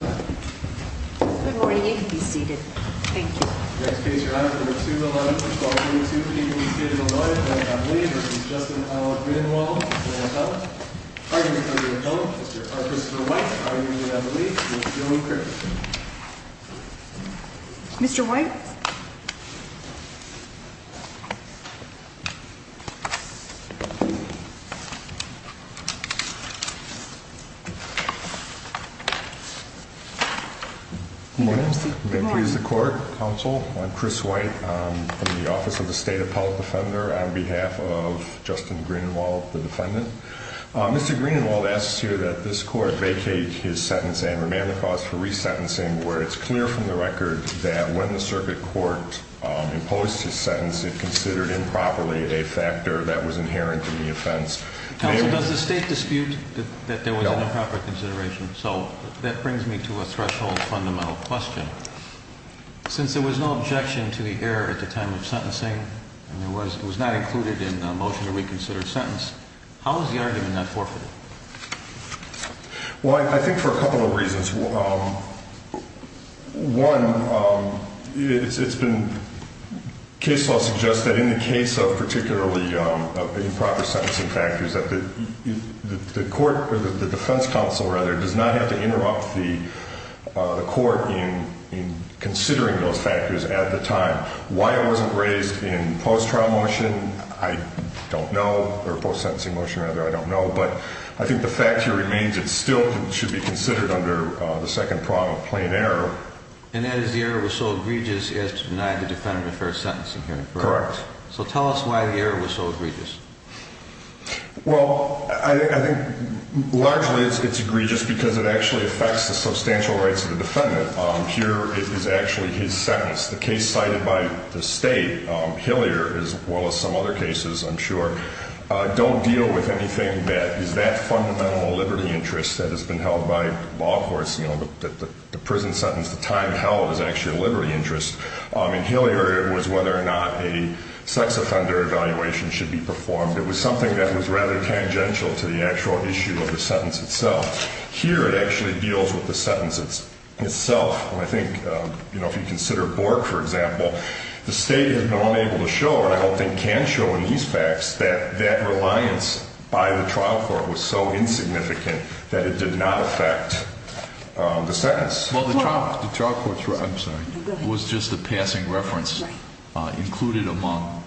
Good morning. You can be seated. Thank you. Next case, your honor, number 211 for 1232. The defendant is stated anointed by Abbey Lee v. Justin A. Greenenwald. Plaintiff. Argument of the opponent, Mr. Arthur Smith-White. Argument of the lead, Mr. Dylan Crick. Mr. White. Good morning. May it please the court, counsel. I'm Chris White. I'm from the Office of the State Appellate Defender on behalf of Justin Greenenwald, the defendant. Mr. Greenenwald asks here that this court vacate his sentence and remand the cause for resentencing where it's clear from the record that when the circuit court imposed his sentence, it considered improperly a factor that was inherent in the offense. Counsel, does the state dispute that there was an improper consideration? So that brings me to a threshold fundamental question. Since there was no objection to the error at the time of sentencing, and it was not included in the motion to reconsider sentence, how is the argument not forfeited? Well, I think for a couple of reasons. One, it's been case law suggests that in the case of particularly improper sentencing factors, that the defense counsel does not have to interrupt the court in considering those factors at the time. Why it wasn't raised in post-trial motion, I don't know, or post-sentencing motion rather, I don't know. But I think the fact here remains it still should be considered under the second prong of plain error. And that is the error was so egregious as to deny the defendant a fair sentencing hearing. Correct. So tell us why the error was so egregious. Well, I think largely it's egregious because it actually affects the substantial rights of the defendant. Here is actually his sentence. The case cited by the state, Hillier, as well as some other cases, I'm sure, don't deal with anything that is that fundamental liberty interest that has been held by law courts. You know, the prison sentence, the time held is actually a liberty interest. In Hillier it was whether or not a sex offender evaluation should be performed. It was something that was rather tangential to the actual issue of the sentence itself. Here it actually deals with the sentence itself. I think, you know, if you consider Bork, for example, the state has been unable to show, and I don't think can show in these facts, that that reliance by the trial court was so insignificant that it did not affect the sentence. Well, the trial court, I'm sorry, was just a passing reference included among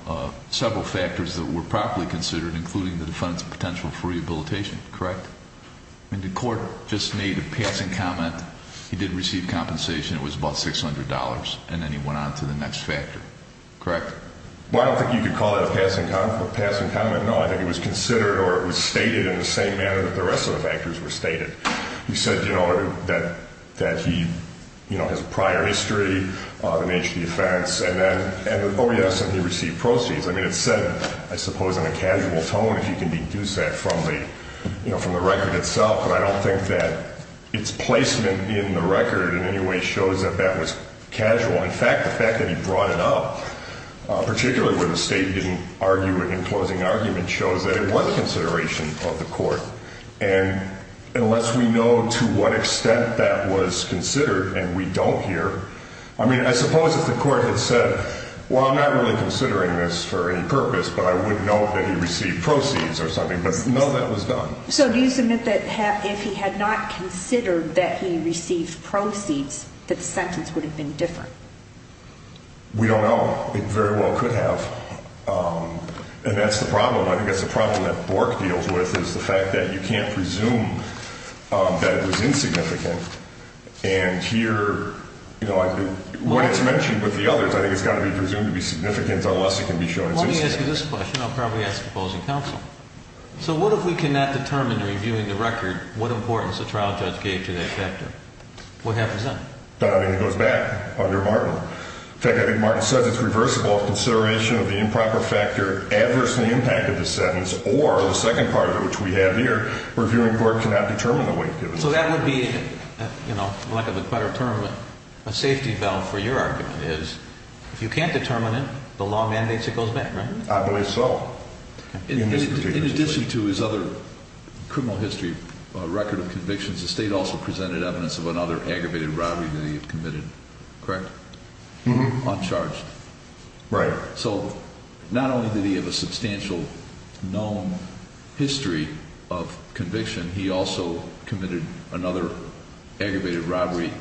several factors that were properly considered, including the defendant's potential for rehabilitation. Correct? And the court just made a passing comment. He did receive compensation. It was about $600. And then he went on to the next factor. Correct? Well, I don't think you could call it a passing comment. No, I think it was considered or it was stated in the same manner that the rest of the factors were stated. He said, you know, that he, you know, has a prior history, the nature of the offense, and then, oh, yes, and he received proceeds. I mean, it's said, I suppose, in a casual tone, if you can deduce that from the, you know, from the record itself. But I don't think that its placement in the record in any way shows that that was casual. In fact, the fact that he brought it up, particularly where the state didn't argue it in closing argument, and unless we know to what extent that was considered and we don't here, I mean, I suppose if the court had said, well, I'm not really considering this for any purpose, but I would know that he received proceeds or something. But no, that was done. So do you submit that if he had not considered that he received proceeds, that the sentence would have been different? We don't know. It very well could have. And that's the problem. I think that's the problem that Bork deals with is the fact that you can't presume that it was insignificant. And here, you know, when it's mentioned with the others, I think it's got to be presumed to be significant unless it can be shown as insignificant. Let me ask you this question. I'll probably ask the opposing counsel. So what if we cannot determine, reviewing the record, what importance the trial judge gave to that factor? What happens then? I mean, it goes back under Martin. In fact, I think Martin says it's reversible if consideration of the improper factor adversely impacted the sentence or the second part of it, which we have here, reviewing court cannot determine the weight given. So that would be, you know, lack of a better term, a safety valve for your argument is if you can't determine it, the law mandates it goes back, right? I believe so. In addition to his other criminal history record of convictions, the state also presented evidence of another aggravated robbery that he had committed, correct? Uncharged. Right. So not only did he have a substantial known history of conviction, he also committed another aggravated robbery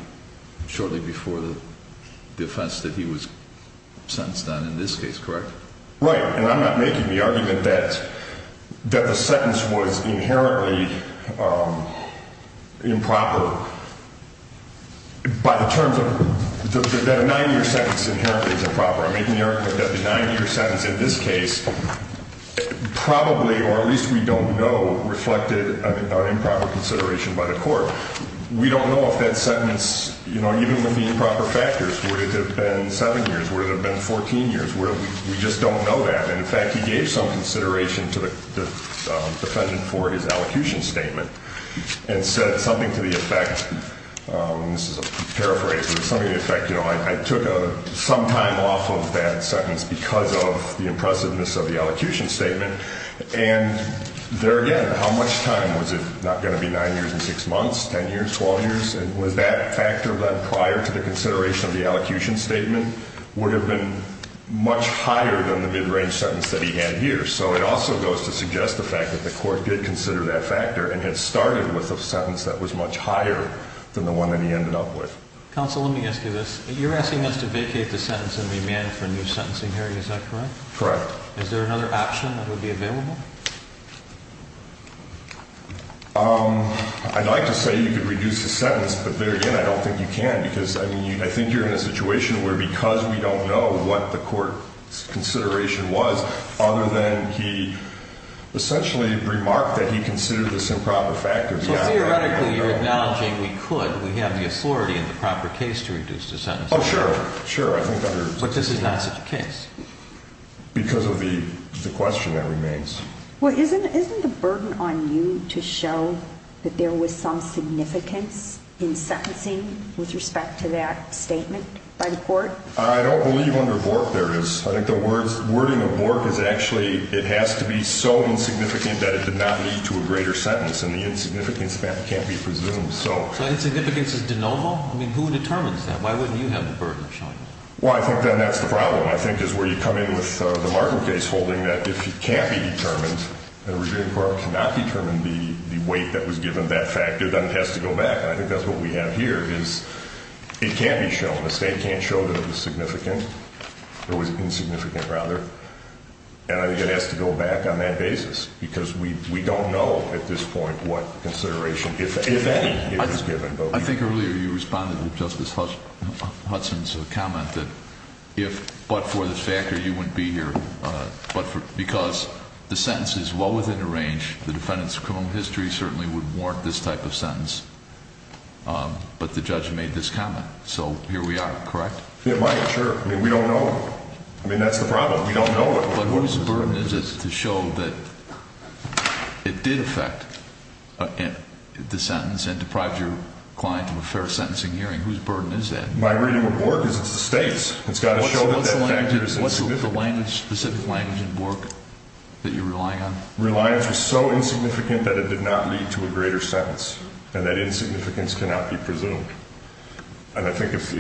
shortly before the defense that he was sentenced on in this case, correct? Right. And I'm not making the argument that the sentence was inherently improper by the terms of that a nine-year sentence inherently is improper. I'm making the argument that the nine-year sentence in this case probably, or at least we don't know, reflected an improper consideration by the court. We don't know if that sentence, you know, even with the improper factors, would it have been seven years? Would it have been 14 years? We just don't know that. And, in fact, he gave some consideration to the defendant for his elocution statement and said something to the effect, and this is a paraphrase, but something to the effect, you know, I took some time off of that sentence because of the impressiveness of the elocution statement. And there again, how much time? Was it not going to be nine years and six months, 10 years, 12 years? Was that factor prior to the consideration of the elocution statement would have been much higher than the mid-range sentence that he had here? So it also goes to suggest the fact that the court did consider that factor and had started with a sentence that was much higher than the one that he ended up with. Counsel, let me ask you this. You're asking us to vacate the sentence and remand for a new sentencing hearing. Is that correct? Correct. Is there another option that would be available? I'd like to say you could reduce the sentence, but there again, I don't think you can because, I mean, I think you're in a situation where because we don't know what the court's consideration was, other than he essentially remarked that he considered this improper factor. So theoretically, you're acknowledging we could, we have the authority in the proper case to reduce the sentence. Oh, sure. Sure. But this is not such a case. Because of the question that remains. Well, isn't the burden on you to show that there was some significance in sentencing with respect to that statement by the court? I don't believe under Bork there is. I think the wording of Bork is actually it has to be so insignificant that it did not lead to a greater sentence, and the insignificance of that can't be presumed. So insignificance is de novo? I mean, who determines that? Why wouldn't you have the burden of showing that? Well, I think then that's the problem, I think, is where you come in with the Markham case holding that if it can't be determined, the review court cannot determine the weight that was given that factor, then it has to go back. And I think that's what we have here is it can't be shown. The state can't show that it was significant, or was insignificant, rather. And I think it has to go back on that basis because we don't know at this point what consideration, if any, is given. I think earlier you responded to Justice Hudson's comment that if, but for this factor, you wouldn't be here. But because the sentence is well within the range, the defendant's criminal history certainly would warrant this type of sentence. But the judge made this comment. So here we are, correct? It might, sure. I mean, we don't know. I mean, that's the problem. We don't know. But whose burden is it to show that it did affect the sentence and deprived your client of a fair sentencing hearing? Whose burden is that? My reading of Bork is it's the state's. It's got to show that that factor is insignificant. What's the specific language in Bork that you're relying on? Reliance was so insignificant that it did not lead to a greater sentence, and that insignificance cannot be presumed. And I think if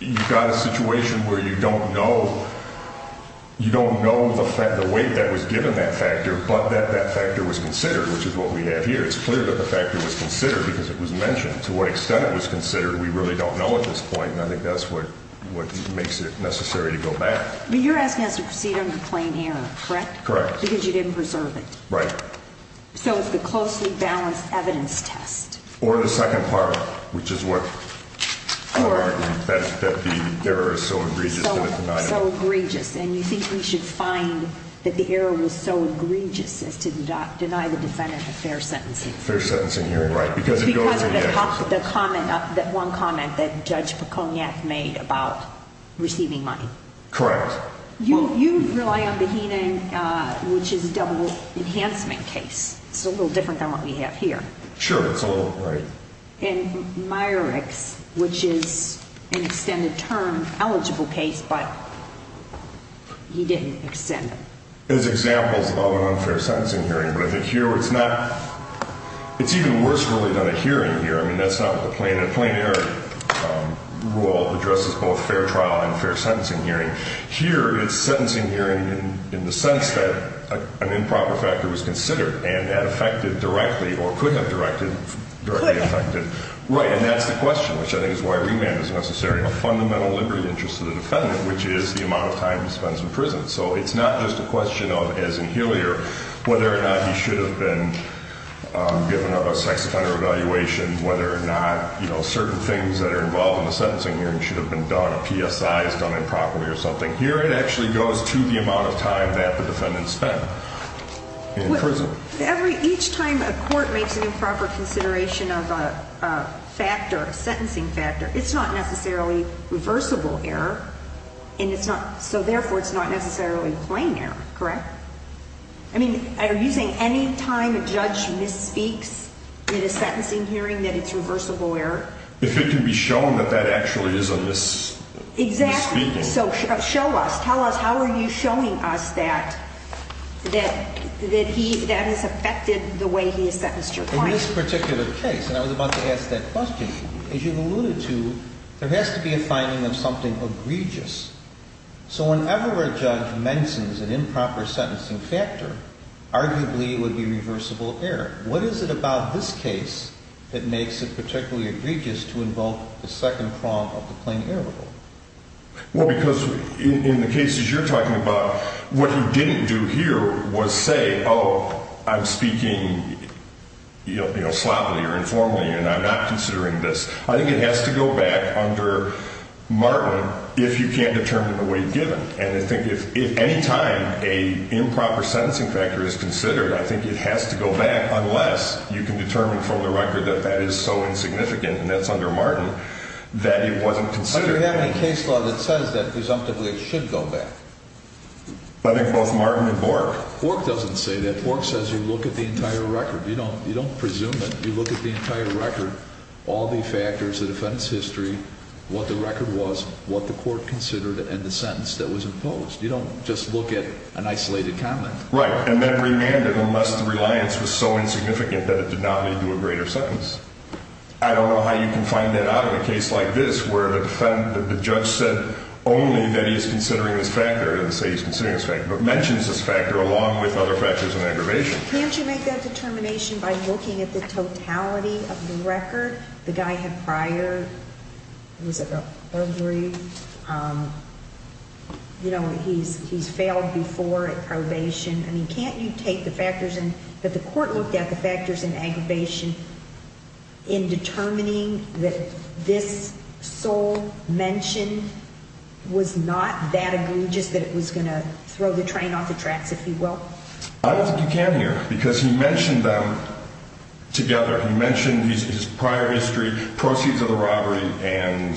you've got a situation where you don't know, you don't know the weight that was given that factor, but that that factor was considered, which is what we have here, it's clear that the factor was considered because it was mentioned. To what extent it was considered, we really don't know at this point, and I think that's what makes it necessary to go back. But you're asking us to proceed under plain error, correct? Correct. Because you didn't preserve it. Right. So it's the closely balanced evidence test. Or the second part, which is what I would argue, that the error is so egregious that it denied it. So egregious. And you think we should find that the error was so egregious as to deny the defendant a fair sentencing? Fair sentencing hearing, right. Because of the comment, that one comment that Judge Piconiak made about receiving money. Correct. You rely on the Heenan, which is a double enhancement case. It's a little different than what we have here. Sure, it's a little, right. And Myrick's, which is an extended term eligible case, but he didn't extend it. As examples of an unfair sentencing hearing. But I think here it's not, it's even worse really than a hearing here. I mean, that's not what the plain error rule addresses, both fair trial and fair sentencing hearing. Here, it's sentencing hearing in the sense that an improper factor was considered and that affected directly or could have directly affected. Could have. Right. And that's the question, which I think is why remand is necessary. A fundamental liberty interest to the defendant, which is the amount of time he spends in prison. So it's not just a question of, as in Hillier, whether or not he should have been given a sex offender evaluation, whether or not certain things that are involved in the sentencing hearing should have been done. Whether or not a PSI is done improperly or something. Here it actually goes to the amount of time that the defendant spent in prison. Each time a court makes an improper consideration of a factor, a sentencing factor, it's not necessarily reversible error. And it's not, so therefore it's not necessarily plain error, correct? I mean, are you saying any time a judge misspeaks in a sentencing hearing that it's reversible error? If it can be shown that that actually is a misspeaking. Exactly. So show us. Tell us, how are you showing us that that is affected the way he has sentenced your client? In this particular case, and I was about to ask that question, as you've alluded to, there has to be a finding of something egregious. So whenever a judge mentions an improper sentencing factor, arguably it would be reversible error. What is it about this case that makes it particularly egregious to involve the second prong of the plain error rule? Well, because in the cases you're talking about, what you didn't do here was say, oh, I'm speaking, you know, sloppily or informally and I'm not considering this. I think it has to go back under Martin if you can't determine the way you've given. And I think if any time a improper sentencing factor is considered, I think it has to go back unless you can determine from the record that that is so insignificant, and that's under Martin, that it wasn't considered. But do you have any case law that says that presumptively it should go back? I think both Martin and Bork. Bork doesn't say that. Bork says you look at the entire record. You don't presume it. You look at the entire record, all the factors, the defendant's history, what the record was, what the court considered, and the sentence that was imposed. You don't just look at an isolated comment. Right. And then remand it unless the reliance was so insignificant that it did not lead to a greater sentence. I don't know how you can find that out in a case like this where the defendant, the judge said only that he's considering this factor, didn't say he's considering this factor, but mentions this factor along with other factors of aggravation. Can't you make that determination by looking at the totality of the record? The guy had prior, was it a burglary? You know, he's failed before at probation. I mean, can't you take the factors that the court looked at, the factors in aggravation, in determining that this sole mention was not that egregious that it was going to throw the train off the tracks, if you will? I don't think you can here, because he mentioned them together. He mentioned his prior history, proceeds of the robbery, and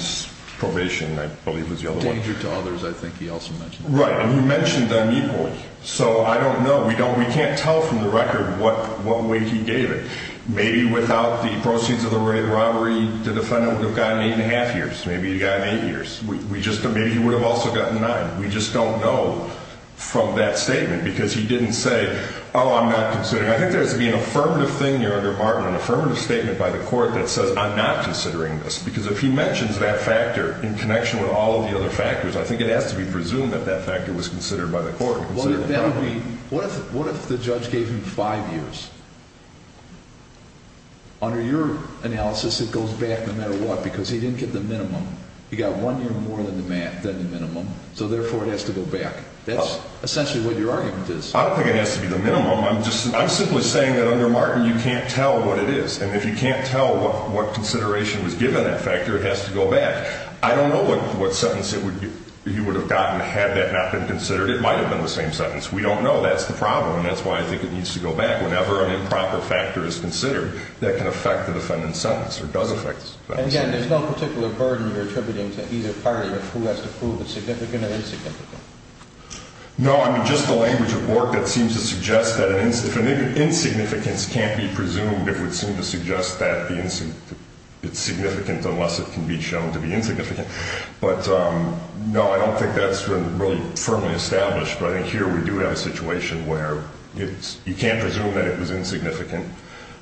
probation, I believe was the other one. Danger to others, I think he also mentioned. Right, and he mentioned them equally. So I don't know. We can't tell from the record what way he gave it. Maybe without the proceeds of the robbery, the defendant would have gotten eight and a half years. Maybe he got eight years. Maybe he would have also gotten nine. We just don't know from that statement, because he didn't say, oh, I'm not considering. I think there has to be an affirmative thing here under Martin, an affirmative statement by the court that says, I'm not considering this. Because if he mentions that factor in connection with all of the other factors, I think it has to be presumed that that factor was considered by the court. What if the judge gave him five years? Under your analysis, it goes back no matter what, because he didn't get the minimum. He got one year more than the minimum, so therefore it has to go back. That's essentially what your argument is. I don't think it has to be the minimum. I'm simply saying that under Martin, you can't tell what it is. And if you can't tell what consideration was given that factor, it has to go back. I don't know what sentence he would have gotten had that not been considered. It might have been the same sentence. We don't know. That's the problem, and that's why I think it needs to go back. And, again, there's no particular burden you're attributing to either party of who has to prove it's significant or insignificant. No, I mean just the language of Bork that seems to suggest that if an insignificance can't be presumed, it would seem to suggest that it's significant unless it can be shown to be insignificant. But, no, I don't think that's been really firmly established. But I think here we do have a situation where you can't presume that it was insignificant,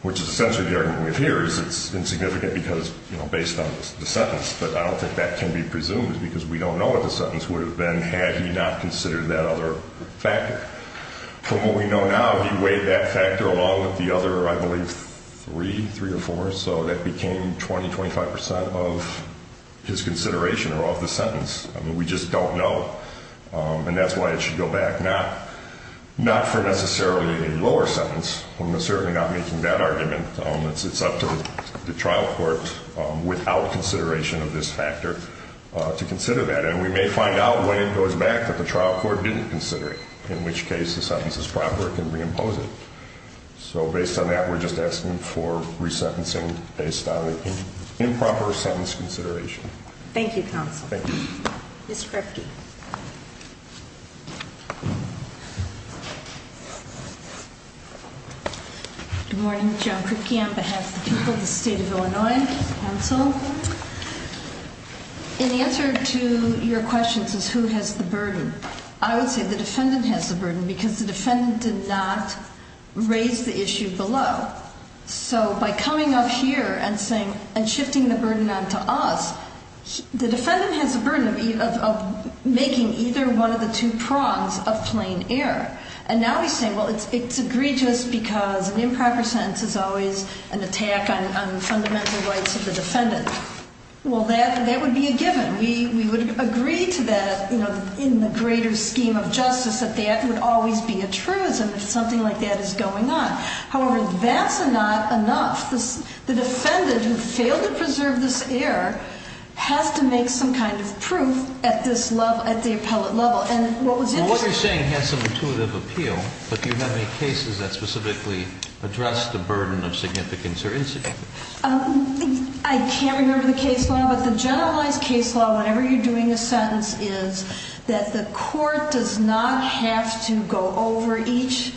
which is essentially the argument we have here is it's insignificant because, you know, based on the sentence. But I don't think that can be presumed because we don't know what the sentence would have been had he not considered that other factor. From what we know now, he weighed that factor along with the other, I believe, three, three or four, so that became 20, 25 percent of his consideration or of the sentence. I mean, we just don't know. And that's why it should go back, not for necessarily a lower sentence. We're certainly not making that argument. It's up to the trial court without consideration of this factor to consider that. And we may find out when it goes back that the trial court didn't consider it, in which case the sentence is proper and can reimpose it. So based on that, we're just asking for resentencing based on improper sentence consideration. Thank you, counsel. Thank you. Ms. Kripke. Good morning. Joan Kripke on behalf of the people of the state of Illinois. Counsel, in answer to your questions as who has the burden, I would say the defendant has the burden because the defendant did not raise the issue below. So by coming up here and saying, and shifting the burden onto us, the defendant has the burden of making either one of the two prongs of plain error. And now he's saying, well, it's egregious because an improper sentence is always an attack on fundamental rights of the defendant. Well, that would be a given. We would agree to that in the greater scheme of justice that that would always be a truism if something like that is going on. However, that's not enough. The defendant who failed to preserve this error has to make some kind of proof at this level, at the appellate level. And what was interesting- Well, what you're saying has some intuitive appeal, but do you have any cases that specifically address the burden of significance or insignificance? I can't remember the case law. But the generalized case law, whenever you're doing a sentence, is that the court does not have to go over each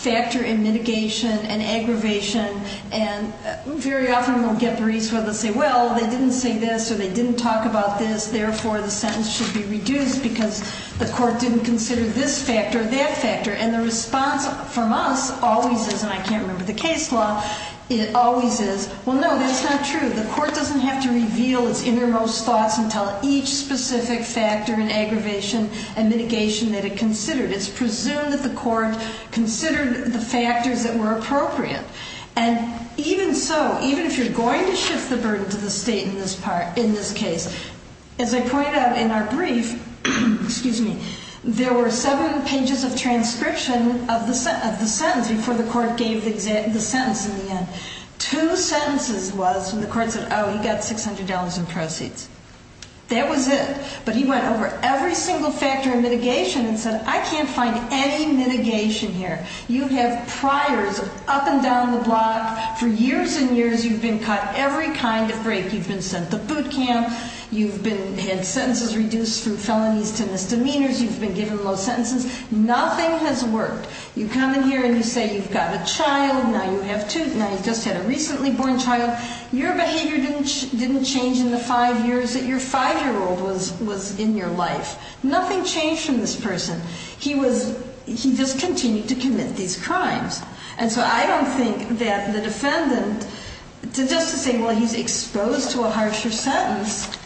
factor in mitigation and aggravation. And very often we'll get briefs where they'll say, well, they didn't say this or they didn't talk about this. Therefore, the sentence should be reduced because the court didn't consider this factor or that factor. And the response from us always is, and I can't remember the case law, it always is, well, no, that's not true. The court doesn't have to reveal its innermost thoughts and tell each specific factor in aggravation and mitigation that it considered. It's presumed that the court considered the factors that were appropriate. And even so, even if you're going to shift the burden to the state in this case, as I pointed out in our brief, there were seven pages of transcription of the sentence before the court gave the sentence in the end. Two sentences was when the court said, oh, he got $600 in proceeds. That was it. But he went over every single factor in mitigation and said, I can't find any mitigation here. You have priors up and down the block. For years and years you've been caught every kind of break. You've been sent to boot camp. You've had sentences reduced from felonies to misdemeanors. You've been given low sentences. Nothing has worked. You come in here and you say you've got a child. Now you just had a recently born child. Your behavior didn't change in the five years that your five-year-old was in your life. Nothing changed from this person. He just continued to commit these crimes. And so I don't think that the defendant, just to say, well, he's exposed to a harsher sentence,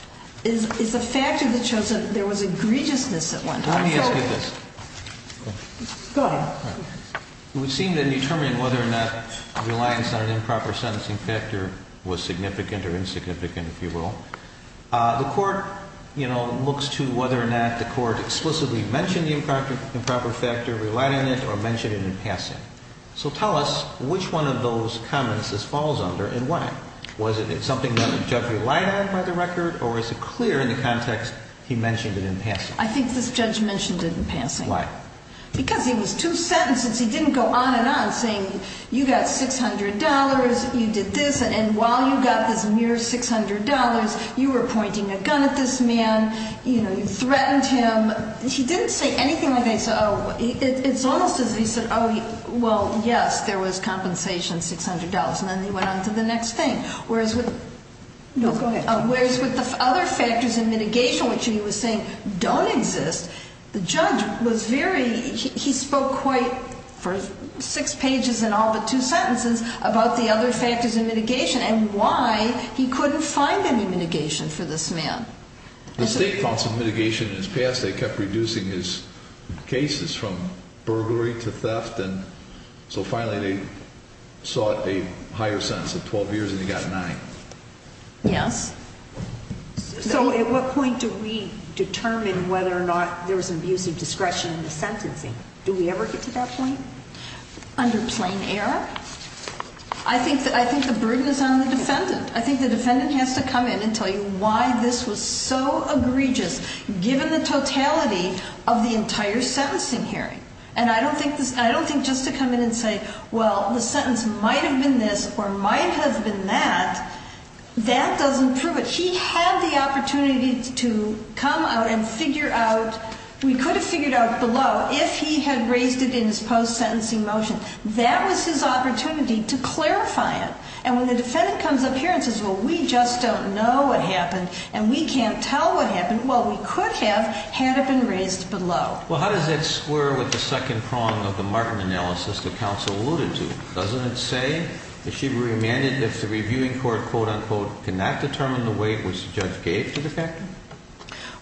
is a factor that shows that there was egregiousness at one time. Let me ask you this. Go ahead. It would seem to determine whether or not reliance on an improper sentencing factor was significant or insignificant, if you will. The court, you know, looks to whether or not the court explicitly mentioned the improper factor, relied on it, or mentioned it in passing. So tell us which one of those comments this falls under and why. Was it something that the judge relied on by the record, or is it clear in the context he mentioned it in passing? I think this judge mentioned it in passing. Why? Because it was two sentences. He didn't go on and on saying, you got $600, you did this, and while you got this mere $600, you were pointing a gun at this man, you know, you threatened him. He didn't say anything like that. It's almost as if he said, oh, well, yes, there was compensation, $600, and then he went on to the next thing. Whereas with the other factors in mitigation, which he was saying don't exist, the judge was very, he spoke quite, for six pages in all but two sentences, about the other factors in mitigation and why he couldn't find any mitigation for this man. The state found some mitigation in his past. They kept reducing his cases from burglary to theft, and so finally they sought a higher sentence of 12 years, and he got nine. Yes. So at what point do we determine whether or not there was an abuse of discretion in the sentencing? Do we ever get to that point? Under plain error. I think the burden is on the defendant. I think the defendant has to come in and tell you why this was so egregious, given the totality of the entire sentencing hearing. And I don't think just to come in and say, well, the sentence might have been this or might have been that, that doesn't prove it. He had the opportunity to come out and figure out, we could have figured out below if he had raised it in his post-sentencing motion. That was his opportunity to clarify it. And when the defendant comes up here and says, well, we just don't know what happened and we can't tell what happened, well, we could have had it been raised below. Well, how does that square with the second prong of the Martin analysis that counsel alluded to? Doesn't it say that she remanded if the reviewing court, quote, unquote, cannot determine the weight which the judge gave to the factor?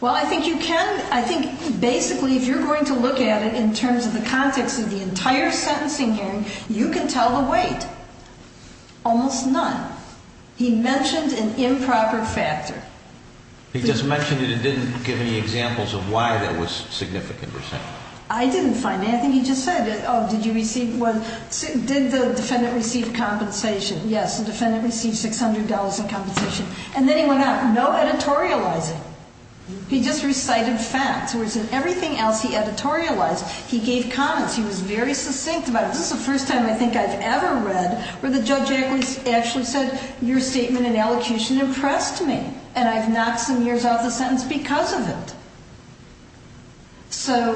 Well, I think you can. I think basically if you're going to look at it in terms of the context of the entire sentencing hearing, you can tell the weight. Almost none. He mentioned an improper factor. He just mentioned it and didn't give any examples of why that was significant. I didn't find anything. He just said, oh, did you receive, did the defendant receive compensation? Yes, the defendant received $600 in compensation. And then he went out. No editorializing. He just recited facts, whereas in everything else he editorialized. He gave comments. He was very succinct about it. This is the first time I think I've ever read where the judge actually said your statement in elocution impressed me. And I've knocked some years off the sentence because of it. So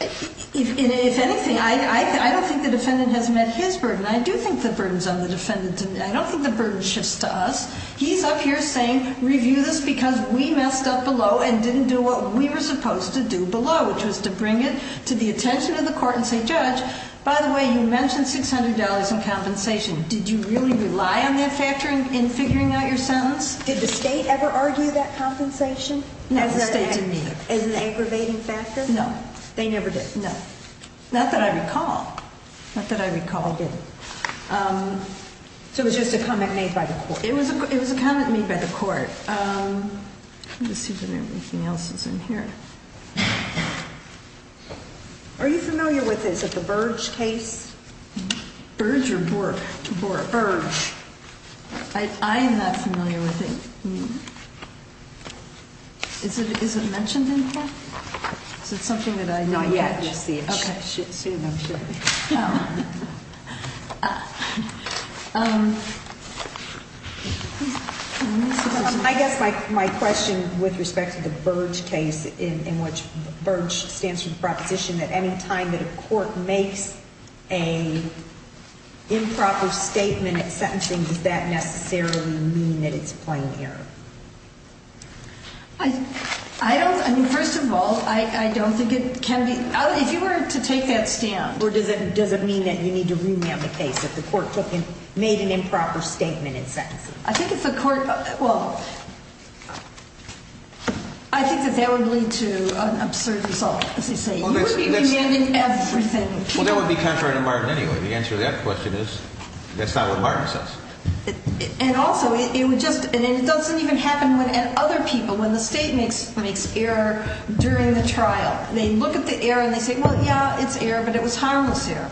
if anything, I don't think the defendant has met his burden. I do think the burden's on the defendant. I don't think the burden shifts to us. He's up here saying review this because we messed up below and didn't do what we were supposed to do below, which was to bring it to the attention of the court and say, judge, by the way, you mentioned $600 in compensation. Did you really rely on that factor in figuring out your sentence? Did the state ever argue that compensation? No, the state didn't either. As an aggravating factor? No. They never did? No. Not that I recall. Not that I recall. They didn't. So it was just a comment made by the court. It was a comment made by the court. All right. Let's see if anything else is in here. Are you familiar with this? Is it the Burge case? Burge or Bourke? Bourke. Burge. I'm not familiar with it. Is it mentioned in here? Is it something that I don't know? Not yet. Okay. Soon, I'm sure. I guess my question with respect to the Burge case in which Burge stands for the proposition that any time that a court makes an improper statement at sentencing, does that necessarily mean that it's plain error? I don't, I mean, first of all, I don't think it can be, if you were to take that stand. Or does it mean that you need to remand the case if the court made an improper statement at sentencing? I think if the court, well, I think that that would lead to an absurd result, as they say. You wouldn't be remanding everything. Well, that would be contrary to Martin anyway. The answer to that question is that's not what Martin says. And also, it would just, and it doesn't even happen when other people, when the state makes error during the trial. They look at the error and they say, well, yeah, it's error, but it was harmless error.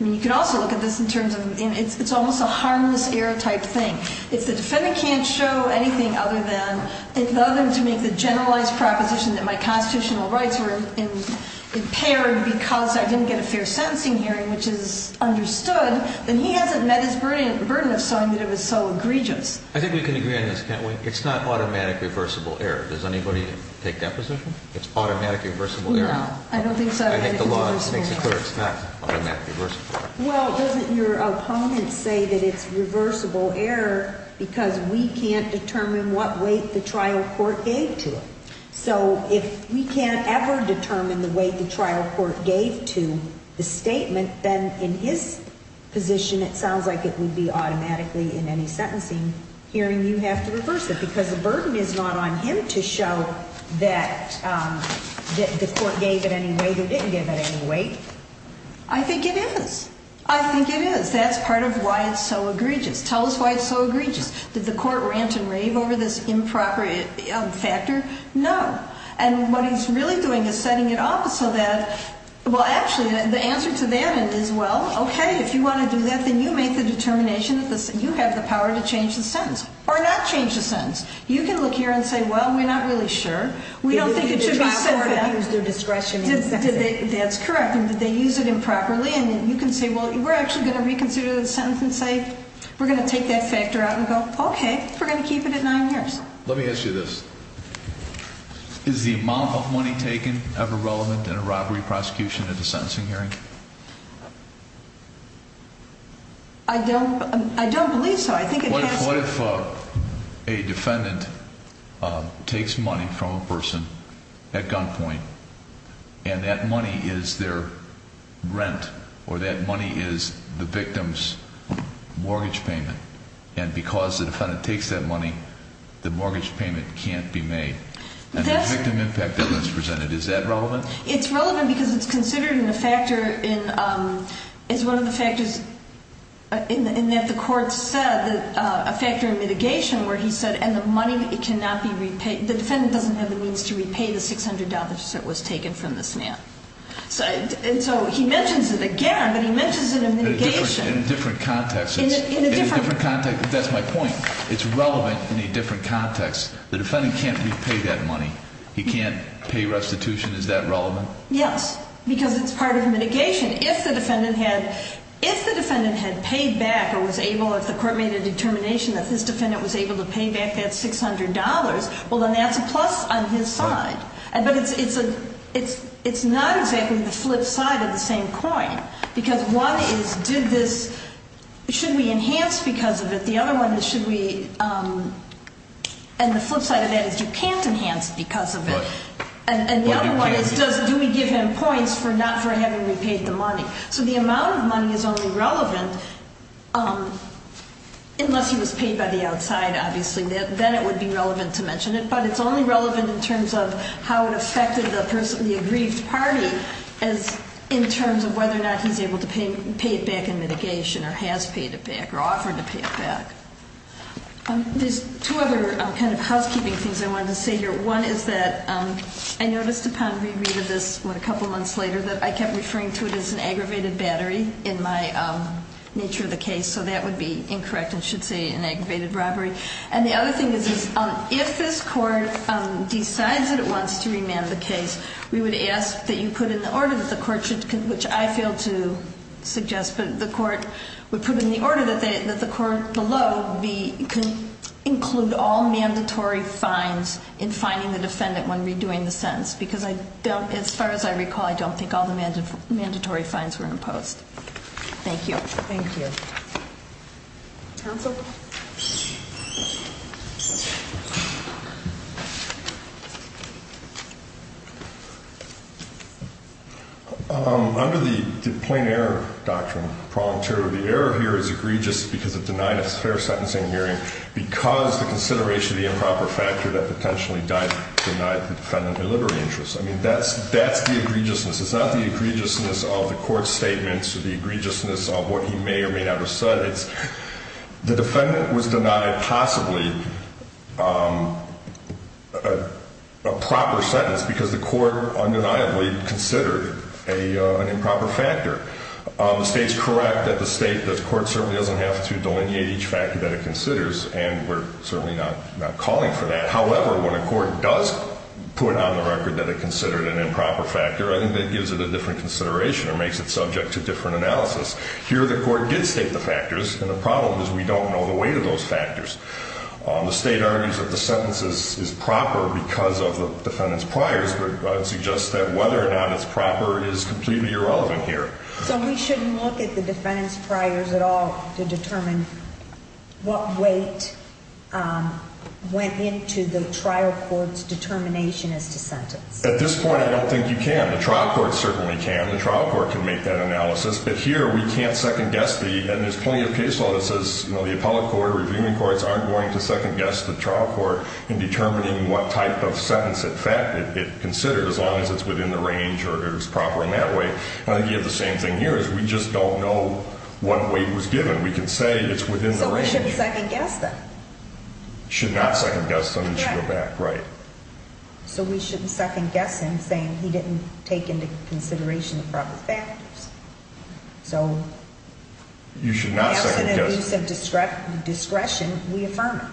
I mean, you could also look at this in terms of, it's almost a harmless error type thing. If the defendant can't show anything other than to make the generalized proposition that my constitutional rights were impaired because I didn't get a fair sentencing hearing, which is understood, then he hasn't met his burden of showing that it was so egregious. I think we can agree on this, can't we? It's not automatic reversible error. Does anybody take that position? It's automatic reversible error. No, I don't think so. I think the law makes it clear it's not automatic reversible error. Well, doesn't your opponent say that it's reversible error because we can't determine what weight the trial court gave to it? So if we can't ever determine the weight the trial court gave to the statement, then in his position, it sounds like it would be automatically in any sentencing hearing you have to reverse it because the burden is not on him to show that the court gave it any weight or didn't give it any weight. I think it is. I think it is. That's part of why it's so egregious. Tell us why it's so egregious. Did the court rant and rave over this improper factor? No. And what he's really doing is setting it up so that, well, actually, the answer to that is, well, okay, if you want to do that, then you make the determination that you have the power to change the sentence or not change the sentence. You can look here and say, well, we're not really sure. We don't think it should be set for that. Did the trial court not use their discretion in the sentencing? That's correct. And did they use it improperly? And you can say, well, we're actually going to reconsider the sentence and say we're going to take that factor out and go, okay, we're going to keep it at nine years. Let me ask you this. Is the amount of money taken ever relevant in a robbery prosecution at a sentencing hearing? I don't believe so. What if a defendant takes money from a person at gunpoint and that money is their rent or that money is the victim's mortgage payment, and because the defendant takes that money, the mortgage payment can't be made? And the victim impact that was presented, is that relevant? It's relevant because it's considered in a factor in one of the factors in that the court said, a factor in mitigation where he said, and the money cannot be repaid. The defendant doesn't have the means to repay the $600 that was taken from this man. And so he mentions it again, but he mentions it in mitigation. In a different context. In a different context. That's my point. It's relevant in a different context. The defendant can't repay that money. He can't pay restitution. Is that relevant? Yes. Because it's part of mitigation. If the defendant had paid back or was able, if the court made a determination that this defendant was able to pay back that $600, well, then that's a plus on his side. But it's not exactly the flip side of the same coin. Because one is, did this, should we enhance because of it? The other one is, should we, and the flip side of that is you can't enhance because of it. And the other one is, do we give him points for not having repaid the money? So the amount of money is only relevant unless he was paid by the outside, obviously. Then it would be relevant to mention it. But it's only relevant in terms of how it affected the person, the aggrieved party in terms of whether or not he's able to pay it back in mitigation or has paid it back or offered to pay it back. There's two other kind of housekeeping things I wanted to say here. One is that I noticed upon rereading this a couple months later that I kept referring to it as an aggravated battery in my nature of the case. So that would be incorrect and should say an aggravated robbery. And the other thing is, if this court decides that it wants to remand the case, we would ask that you put in the order that the court should, which I fail to suggest, but the court would put in the order that the court below include all mandatory fines in fining the defendant when redoing the sentence. Because as far as I recall, I don't think all the mandatory fines were imposed. Thank you. Thank you. Counsel? Under the plain error doctrine, the error here is egregious because it denied a fair sentencing hearing because the consideration of the improper factor that potentially denied the defendant a liberty interest. I mean, that's the egregiousness. It's not the egregiousness of the court's statements or the egregiousness of what he may or may not have said. It's the defendant was denied possibly a proper sentence because the court undeniably considered an improper factor. The state's correct that the state, the court certainly doesn't have to delineate each factor that it considers, and we're certainly not calling for that. However, when a court does put on the record that it considered an improper factor, I think that gives it a different consideration or makes it subject to different analysis. Here, the court did state the factors, and the problem is we don't know the weight of those factors. The state argues that the sentence is proper because of the defendant's priors, but suggests that whether or not it's proper is completely irrelevant here. So we shouldn't look at the defendant's priors at all to determine what weight went into the trial court's determination as to sentence? At this point, I don't think you can. The trial court certainly can. The trial court can make that analysis. But here we can't second-guess the – and there's plenty of case law that says, you know, the appellate court, reviewing courts aren't going to second-guess the trial court in determining what type of sentence, in fact, it considers, as long as it's within the range or it's proper in that way. I think you have the same thing here, is we just don't know what weight was given. We can say it's within the range. So we shouldn't second-guess them. Should not second-guess them and should go back, right. So we shouldn't second-guess him, saying he didn't take into consideration the proper factors. So – You should not second-guess – If it's an abuse of discretion, we affirm it.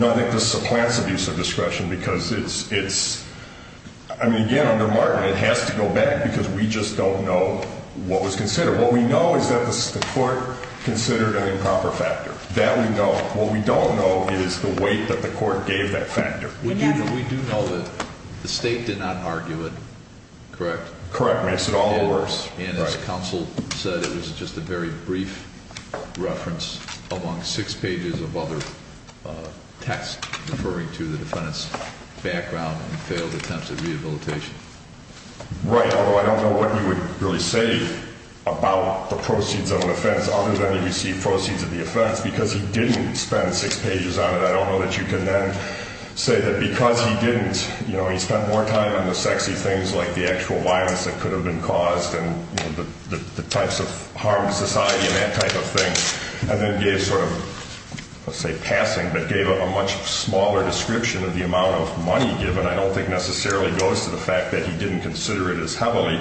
No, I think this supplants abuse of discretion because it's – I mean, again, under Martin, it has to go back because we just don't know what was considered. What we know is that the court considered an improper factor. That we know. What we don't know is the weight that the court gave that factor. We do know that the State did not argue it, correct? Correct. Makes it all the worse. And as counsel said, it was just a very brief reference among six pages of other text referring to the defendant's background and failed attempts at rehabilitation. Right, although I don't know what you would really say about the proceeds of an offense other than he received proceeds of the offense because he didn't spend six pages on it. I don't know that you can then say that because he didn't, you know, he spent more time on the sexy things like the actual violence that could have been caused and the types of harm to society and that type of thing. And then gave sort of, let's say passing, but gave a much smaller description of the amount of money given. I don't think necessarily goes to the fact that he didn't consider it as heavily.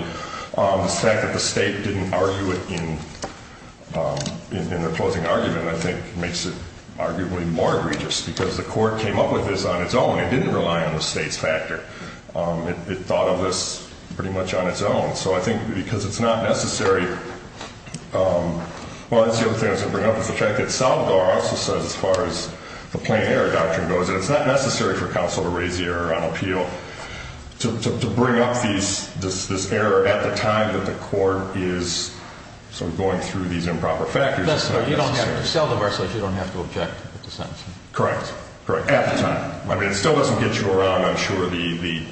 The fact that the State didn't argue it in the closing argument, I think, makes it arguably more egregious because the court came up with this on its own. It didn't rely on the State's factor. It thought of this pretty much on its own. So I think because it's not necessary. Well, that's the other thing I was going to bring up is the fact that Salvador also says as far as the plain error doctrine goes that it's not necessary for counsel to raise the error on appeal. To bring up this error at the time that the court is sort of going through these improper factors is not necessary. That's right. Salvador says you don't have to object to the sentence. Correct. At the time. I mean, it still doesn't get you around, I'm sure, the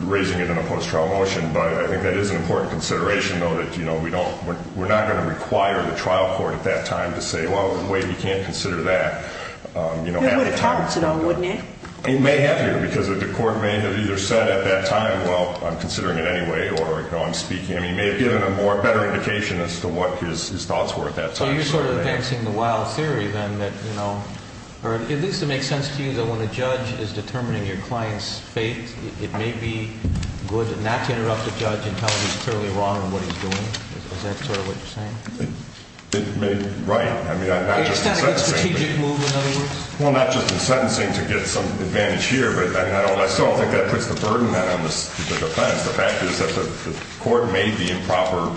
raising it in a post-trial motion. But I think that is an important consideration, though, that we're not going to require the trial court at that time to say, well, wait, you can't consider that. It would have harmed it, though, wouldn't it? It may have, because the court may have either said at that time, well, I'm considering it anyway, or, you know, I'm speaking. I mean, it may have given a better indication as to what his thoughts were at that time. So you're sort of advancing the wild theory, then, that, you know, or at least it makes sense to you that when a judge is determining your client's fate, it may be good not to interrupt the judge and tell him he's clearly wrong on what he's doing? Is that sort of what you're saying? Right. I mean, not just in sentencing. A strategic move, in other words? Well, not just in sentencing to get some advantage here, but I mean, I still don't think that puts the burden then on the defense. The fact is that the court made the improper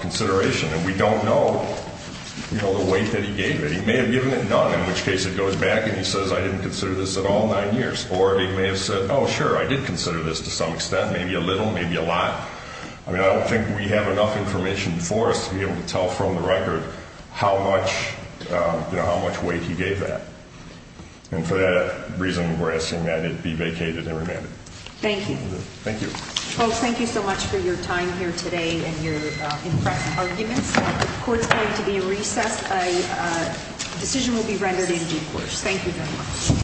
consideration, and we don't know, you know, the weight that he gave it. He may have given it none, in which case it goes back and he says, I didn't consider this at all nine years. Or he may have said, oh, sure, I did consider this to some extent, maybe a little, maybe a lot. I mean, I don't think we have enough information for us to be able to tell from the record how much, you know, how much weight he gave that. And for that reason, we're asking that it be vacated and remanded. Thank you. Thank you. Folks, thank you so much for your time here today and your impressive arguments. The court's going to be in recess. A decision will be rendered in due course. Thank you very much.